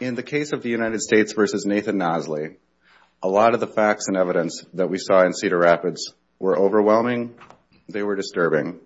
In the case of the United States v. Nathan Nosley, a lot of the facts and evidence that we saw in Cedar Rapids were overwhelming. They were disturbing.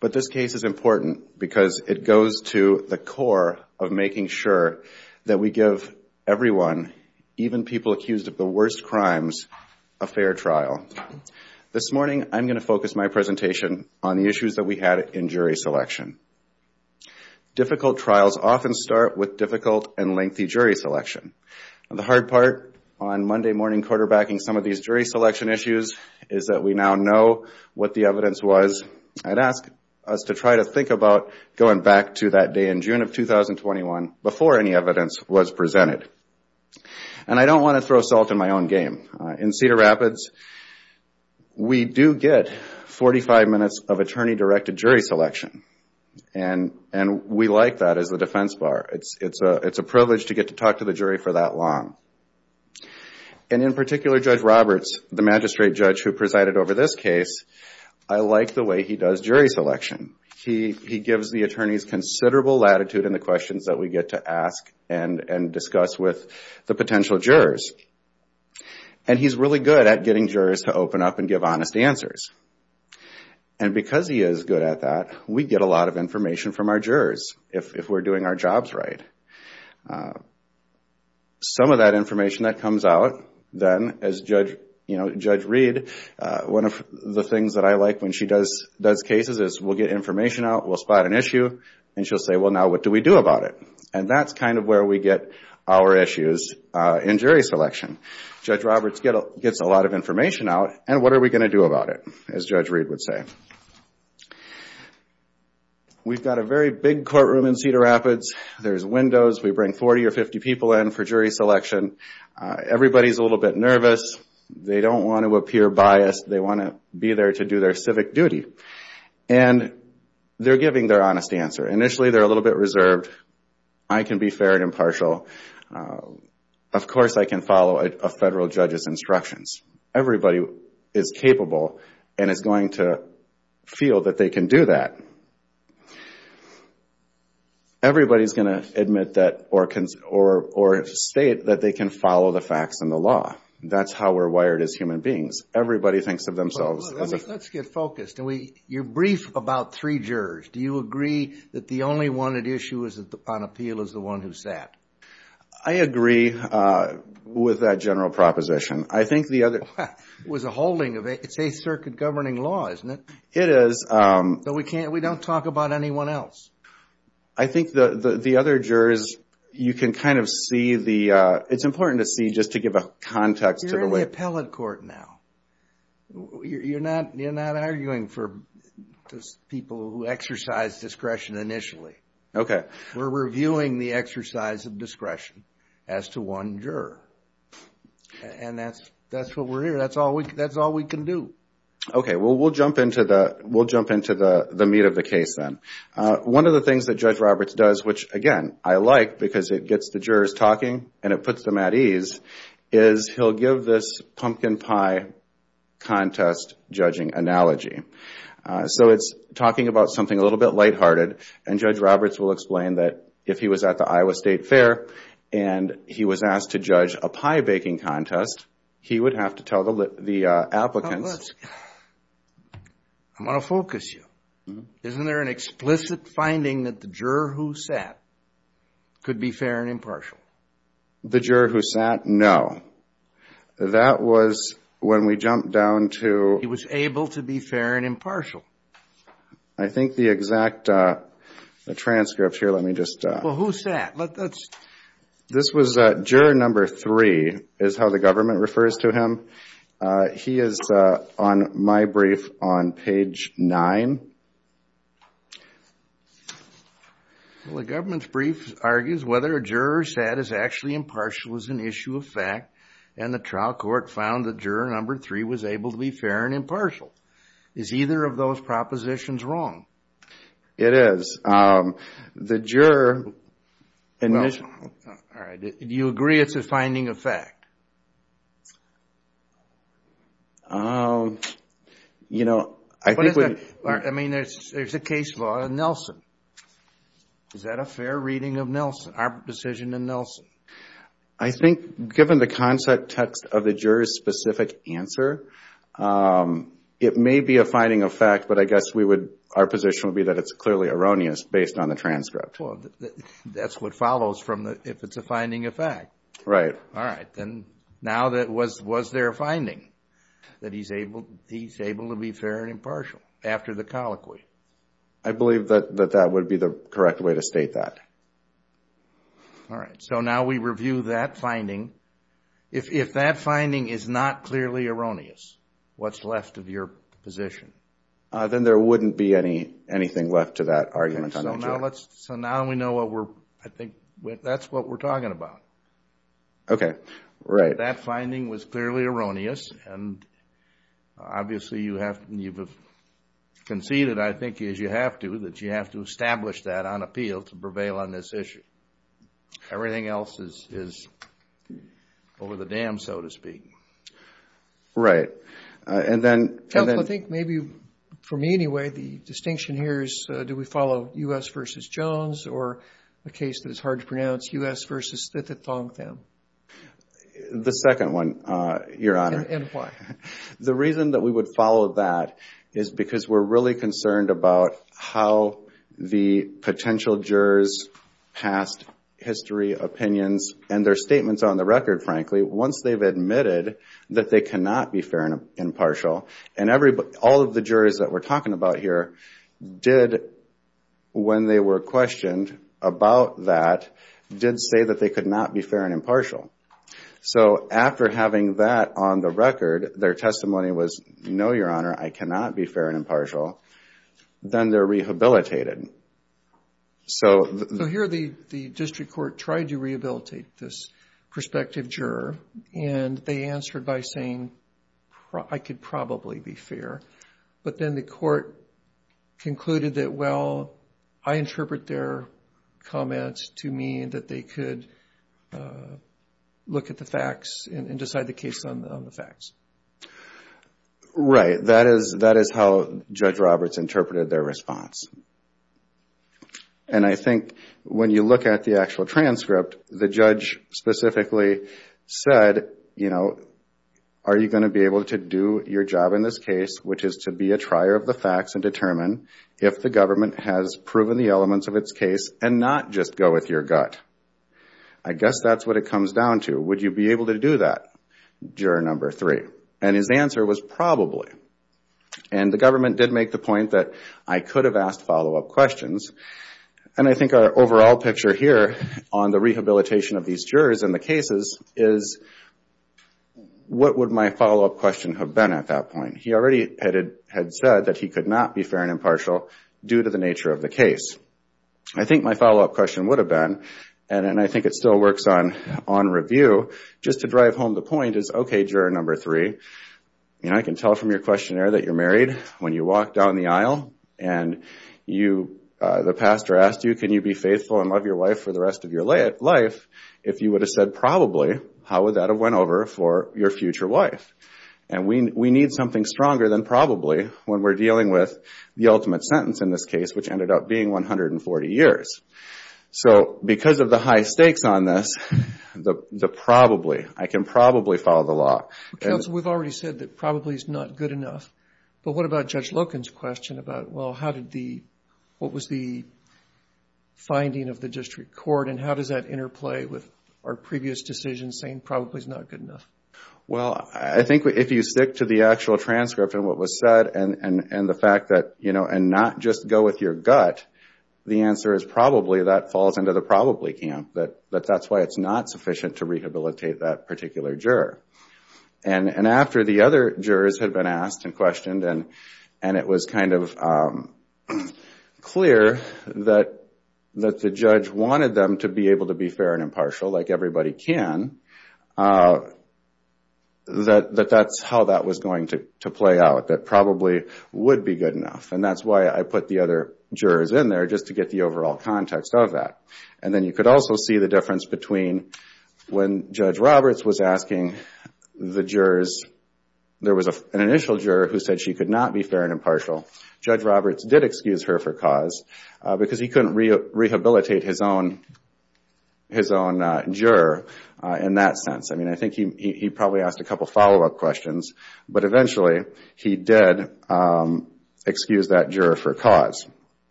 But this case is important because it goes to the core of making sure that we give everyone, even people accused of the worst crimes, a fair trial. This morning I'm going to focus my presentation on the issues that we had in jury selection. Difficult trials often start with difficult and lengthy jury selection. The hard part on Monday morning quarterbacking some of these jury selection issues is that we now know what the evidence was. I'd ask us to try to think about going back to that day in June of 2021 before any evidence was presented. I don't want to throw salt in my own game. In Cedar Rapids, we do get 45 minutes of attorney-directed jury selection. We like that as the defense bar. It's a privilege to get to talk to the jury for that long. In particular, Judge Roberts, the magistrate judge who presided over this case, I like the way he does jury selection. He gives the attorneys considerable latitude in the questions that we get to ask and discuss with the potential jurors. He's really good at getting jurors to open up and give honest answers. Because he is good at that, we get a lot of information from our jurors if we're doing our jobs right. Some of that information that comes out then, as Judge Reed, one of the things that I like when she does cases is we'll get information out, we'll spot an issue, and she'll say, well now what do we do about it? That's kind of where we get our issues in jury selection. Judge Roberts gets a lot of information out and what are we going to do about it, as Judge Reed would say. We've got a very big courtroom in Cedar Rapids. There's windows. We bring 40 or 50 people in for jury selection. Everybody's a little bit nervous. They don't want to appear biased. They want to be there to do their civic duty. And they're giving their honest answer. Initially, they're a little bit reserved. I can be fair and impartial. Of course, I can follow a federal judge's instructions. Everybody is capable and is going to feel that they can do that. Everybody's going to admit that or state that they can follow the facts and the law. That's how we're wired as human beings. Everybody thinks of themselves as a... You're brief about three jurors. Do you agree that the only one at issue on appeal is the one who sat? I agree with that general proposition. It's a circuit governing law, isn't it? It is. But we don't talk about anyone else. I think the other jurors, you can kind of see the... It's important to see just to give a context. You're in the appellate court now. You're not arguing for people who exercise discretion initially. We're reviewing the exercise of discretion as to one juror. And that's what we're here. That's all we can do. We'll jump into the meat of the case then. One of the things that Judge Roberts does, which again, I like because it gets the jurors talking and it puts them at ease, is he'll give this pumpkin pie contest judging analogy. It's talking about something a little bit lighthearted. And Judge Roberts will explain that if he was at the Iowa State Fair and he was asked to judge a pie baking contest, he would have to tell the applicants... I want to focus you. Isn't there an explicit finding that the juror who sat could be fair and impartial? The juror who sat? No. That was when we jumped down to... He was able to be fair and impartial. I think the exact transcript here, let me just... Who sat? This was juror number three is how the government refers to him. He is on my brief on page nine. The government's brief argues whether a juror sat is actually impartial is an issue of fact. And the trial court found that juror number three was able to be fair and impartial. Is either of those propositions wrong? It is. The juror... Do you agree it's a finding of fact? There's a case law in Nelson. Is that a fair reading of our decision in Nelson? I think given the concept text of the juror's specific answer, it may be a finding of fact. But I guess our position would be that it's clearly erroneous based on the transcript. That's what follows if it's a finding of fact. Right. Now was there a finding that he's able to be fair and impartial after the colloquy? I believe that would be the correct way to state that. All right. So now we review that finding. If that finding is not clearly erroneous, what's left of your position? Then there wouldn't be anything left to that argument. So now we know what we're... I think that's what we're talking about. Okay. Right. That finding was clearly erroneous. And obviously you have conceded, I think, as you have to, that you have to establish that on appeal to prevail on this issue. Everything else is over the dam, so to speak. Right. And then... Counsel, I think maybe, for me anyway, the distinction here is do we follow U.S. v. Jones or a case that is hard to pronounce, U.S. v. Thong Tham? The second one, Your Honor. Why? The reason that we would follow that is because we're really concerned about how the potential jurors' past history, opinions, and their statements on the record, frankly, once they've admitted that they cannot be fair and impartial. And all of the jurors that we're talking about here did, when they were questioned about that, did say that they could not be fair and impartial. So after having that on the record, their testimony was, no, Your Honor, I cannot be fair and impartial. Then they're rehabilitated. So here the district court tried to rehabilitate this prospective juror, and they answered by saying, I could probably be fair. But then the court concluded that, well, I interpret their comments to mean that they could look at the facts and decide the case on the facts. Right. That is how Judge Roberts interpreted their response. And I think when you look at the actual transcript, the judge specifically said, you know, are you going to be able to do your job in this case, which is to be a trier of the facts and determine if the government has proven the elements of its case and not just go with your gut? I guess that's what it comes down to. Would you be able to do that, juror number three? And his answer was probably. And the government did make the point that I could have asked follow-up questions. And I think our overall picture here on the rehabilitation of these jurors and the cases is, what would my follow-up question have been at that point? He already had said that he could not be fair and impartial due to the nature of the case. I think my follow-up question would have been, and I think it still works on review, just to drive home the point is, okay, juror number three, I can tell from your questionnaire that you're married when you walk down the aisle and the pastor asked you, can you be faithful and love your wife for the rest of your life? If you would have said probably, how would that have went over for your future wife? And we need something stronger than probably when we're dealing with the ultimate sentence in this case, which ended up being 140 years. So because of the high stakes on this, the probably, I can probably follow the law. You've already said that probably is not good enough, but what about Judge Loken's question about, well, how did the, what was the finding of the district court and how does that interplay with our previous decision saying probably is not good enough? Well, I think if you stick to the actual transcript and what was said and the fact that, you know, and not just go with your gut, the answer is probably that falls into the probably camp, that that's why it's not sufficient to rehabilitate that particular juror. And after the other jurors had been asked and questioned and it was kind of clear that the judge wanted them to be able to be fair and impartial, like everybody can, that that's how that was going to play out, that probably would be good enough. And that's why I put the other jurors in there, just to get the overall context of that. And then you could also see the difference between when Judge Roberts was asking the jurors, there was an initial juror who said she could not be fair and impartial. Judge Roberts did excuse her for cause because he couldn't rehabilitate his own juror in that sense. I mean, I think he probably asked a couple follow-up questions, but eventually he did excuse that juror for cause.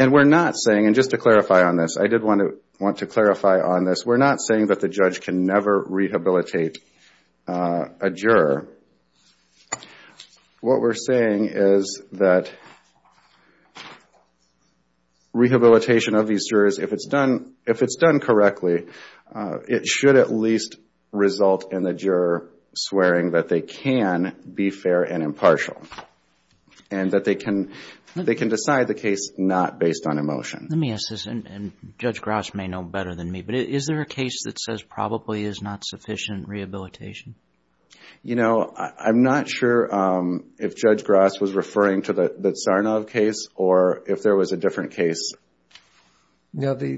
And we're not saying, and just to clarify on this, I did want to clarify on this, we're not saying that the judge can never rehabilitate a juror. What we're saying is that rehabilitation of these jurors, if it's done correctly, it should at least result in the juror swearing that they can be fair and impartial. And that they can decide the case not based on emotion. Let me ask this, and Judge Grouse may know better than me, but is there a case that says probably is not sufficient rehabilitation? You know, I'm not sure if Judge Grouse was referring to the Tsarnaev case or if there was a different case. No, the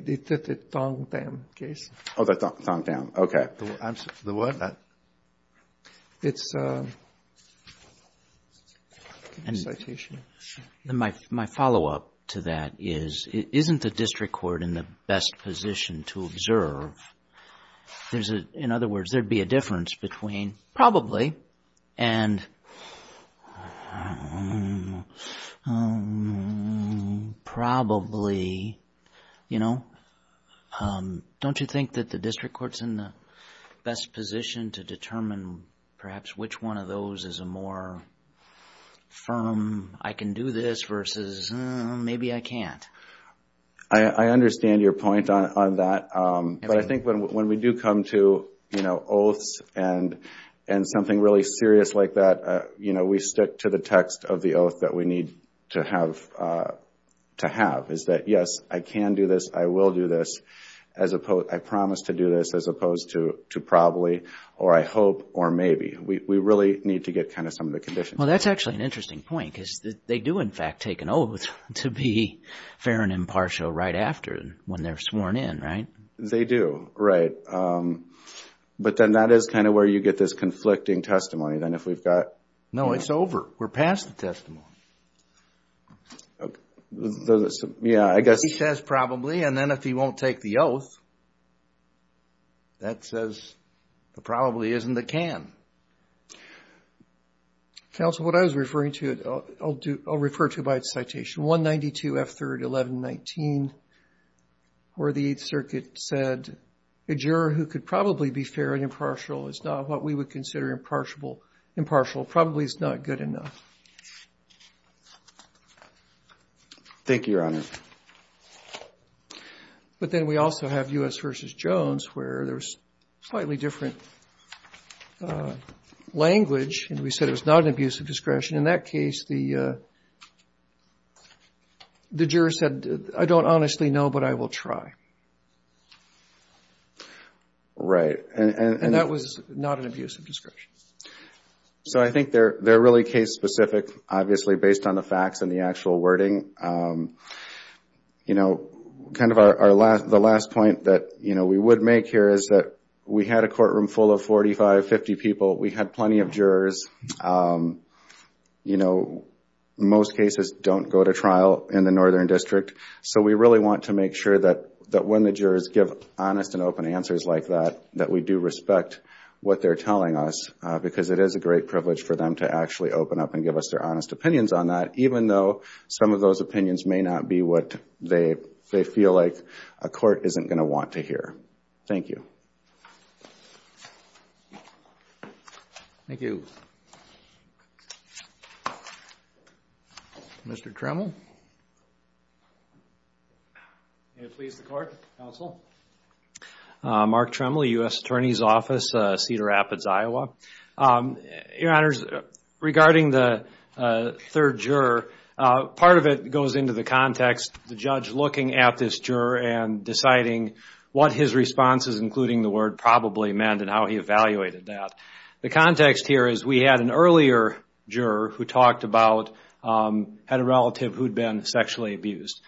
Thong Tham case. Oh, the Thong Tham, okay. The what? It's a citation. My follow-up to that is, isn't the district court in the best position to observe? In other words, there'd be a difference between probably and probably, you know. Don't you think that the district court's in the best position to determine perhaps which one of those is a more firm, I can do this versus maybe I can't? I understand your point on that, but I think when we do come to, you know, oaths and something really serious like that, you know, we stick to the text of the oath that we need to have, is that yes, I can do this, I will do this, I promise to do this as opposed to probably or I hope or maybe. We really need to get kind of some of the conditions. Well, that's actually an interesting point because they do in fact take an oath to be fair and impartial right after when they're sworn in, right? They do, right. But then that is kind of where you get this conflicting testimony. Then if we've got... No, it's over. We're past the testimony. Yeah, I guess... He says probably and then if he won't take the oath, that says the probably isn't the can. Counsel, what I was referring to, I'll refer to it by its citation. F3rd 1119 where the Eighth Circuit said a juror who could probably be fair and impartial is not what we would consider impartial. Impartial probably is not good enough. Thank you, Your Honor. But then we also have U.S. v. Jones where there's slightly different language and we said it was not an abuse of discretion. In that case, the juror said, I don't honestly know, but I will try. Right. And that was not an abuse of discretion. So I think they're really case specific, obviously, based on the facts and the actual wording. The last point that we would make here is that we had a courtroom full of 45, 50 people. We had plenty of jurors. Most cases don't go to trial in the Northern District. So we really want to make sure that when the jurors give honest and open answers like that, that we do respect what they're telling us. Because it is a great privilege for them to actually open up and give us their honest opinions on that. Even though some of those opinions may not be what they feel like a court isn't going to want to hear. Thank you. Thank you. Mr. Tremble. May it please the Court. Counsel. Mark Tremble, U.S. Attorney's Office, Cedar Rapids, Iowa. Your Honors, regarding the third juror, part of it goes into the context. The judge looking at this juror and deciding what his responses, including the word probably, meant and how he evaluated that. The context here is we had an earlier juror who talked about a relative who had been sexually abused.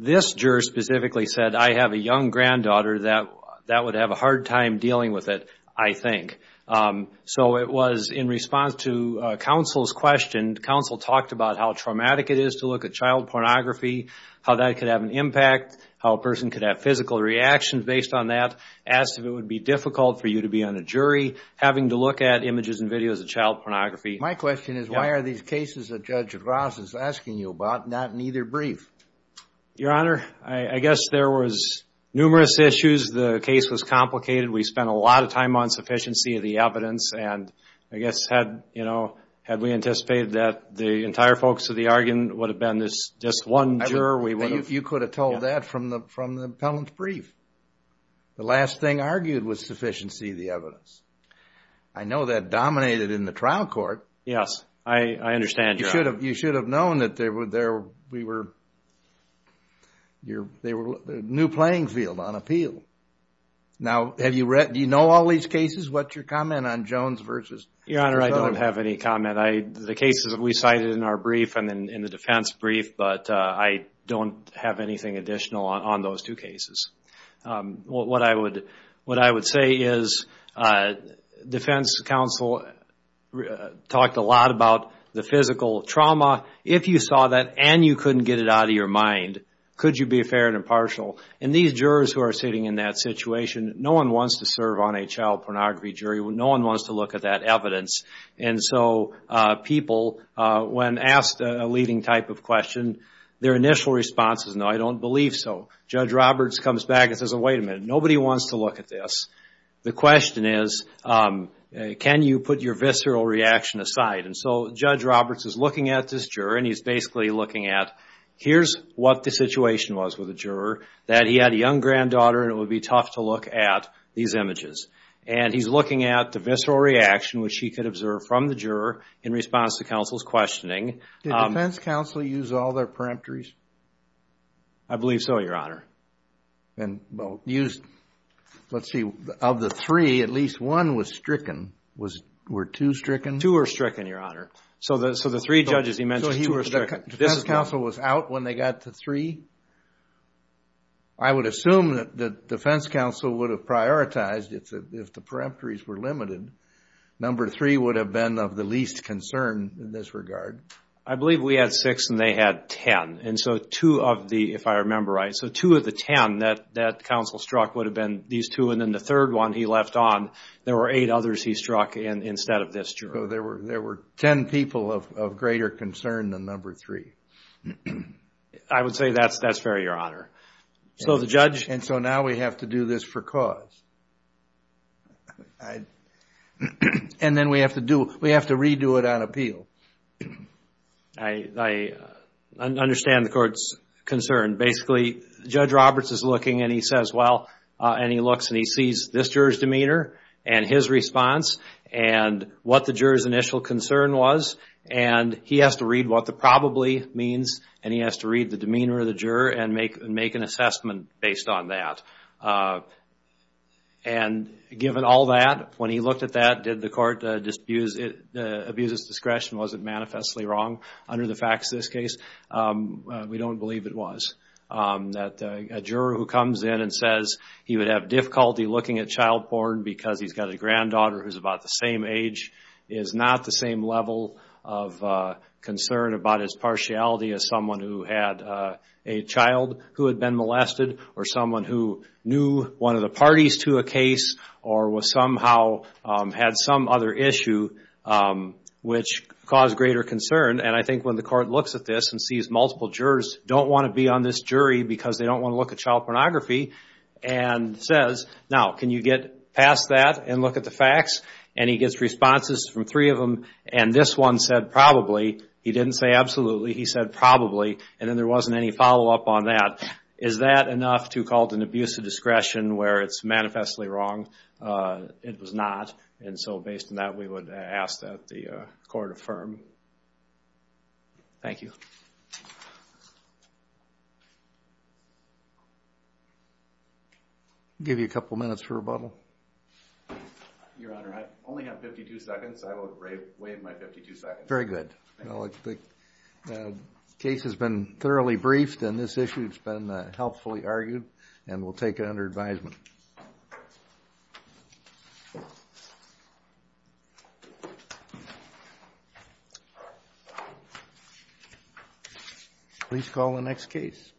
This juror specifically said, I have a young granddaughter that would have a hard time dealing with it, I think. So it was in response to counsel's question, counsel talked about how traumatic it is to look at child pornography, how that could have an impact, how a person could have physical reactions based on that. Asked if it would be difficult for you to be on a jury, having to look at images and videos of child pornography. My question is why are these cases that Judge Ross is asking you about not in either brief? Your Honor, I guess there was numerous issues. The case was complicated. We spent a lot of time on sufficiency of the evidence and I guess had, you know, had we anticipated that the entire focus of the argument would have been this just one juror, we would have. You could have told that from the appellant's brief. The last thing argued was sufficiency of the evidence. I know that dominated in the trial court. Yes, I understand, Your Honor. You should have known that they were there, we were, they were a new playing field on appeal. Now, have you read, do you know all these cases? What's your comment on Jones v. Jones? Your Honor, I don't have any comment. The cases that we cited in our brief and in the defense brief, but I don't have anything additional on those two cases. What I would say is defense counsel talked a lot about the physical trauma. If you saw that and you couldn't get it out of your mind, could you be fair and impartial? And these jurors who are sitting in that situation, no one wants to serve on a child pornography jury. No one wants to look at that evidence. And so people, when asked a leading type of question, their initial response is no, I don't believe so. Judge Roberts comes back and says, wait a minute, nobody wants to look at this. The question is, can you put your visceral reaction aside? And so Judge Roberts is looking at this juror and he's basically looking at, here's what the situation was with the juror, that he had a young granddaughter and it would be tough to look at these images. And he's looking at the visceral reaction, which he could observe from the juror in response to counsel's questioning. Did defense counsel use all their peremptories? I believe so, Your Honor. Let's see, of the three, at least one was stricken. Were two stricken? Two were stricken, Your Honor. So the three judges he mentioned, two were stricken. So defense counsel was out when they got to three? I would assume that defense counsel would have prioritized if the peremptories were limited. Number three would have been of the least concern in this regard. I believe we had six and they had ten. And so two of the, if I remember right, so two of the ten that counsel struck would have been these two. And then the third one he left on, there were eight others he struck instead of this juror. So there were ten people of greater concern than number three. I would say that's fair, Your Honor. And so now we have to do this for cause. And then we have to redo it on appeal. I understand the court's concern. Basically, Judge Roberts is looking and he says, well, and he looks and he sees this juror's demeanor and his response and what the juror's initial concern was. And he has to read what the probably means and he has to read the demeanor of the juror and make an assessment based on that. And given all that, when he looked at that, did the court abuse his discretion? Was it manifestly wrong? Under the facts of this case, we don't believe it was. That a juror who comes in and says he would have difficulty looking at child-born because he's got a granddaughter who's about the same age is not the same level of concern about his partiality as someone who had a child who had been molested or someone who knew one of the parties to a case or somehow had some other issue which caused greater concern. And I think when the court looks at this and sees multiple jurors don't want to be on this jury because they don't want to look at child pornography and says, now, can you get past that and look at the facts? And he gets responses from three of them and this one said probably. He didn't say absolutely. He said probably. And then there wasn't any follow-up on that. Is that enough to call it an abuse of discretion where it's manifestly wrong? It was not. And so based on that, we would ask that the court affirm. Thank you. I'll give you a couple minutes for rebuttal. Your Honor, I only have 52 seconds. I will waive my 52 seconds. Very good. The case has been thoroughly briefed and this issue has been helpfully argued and we'll take it under advisement. Please call the next case.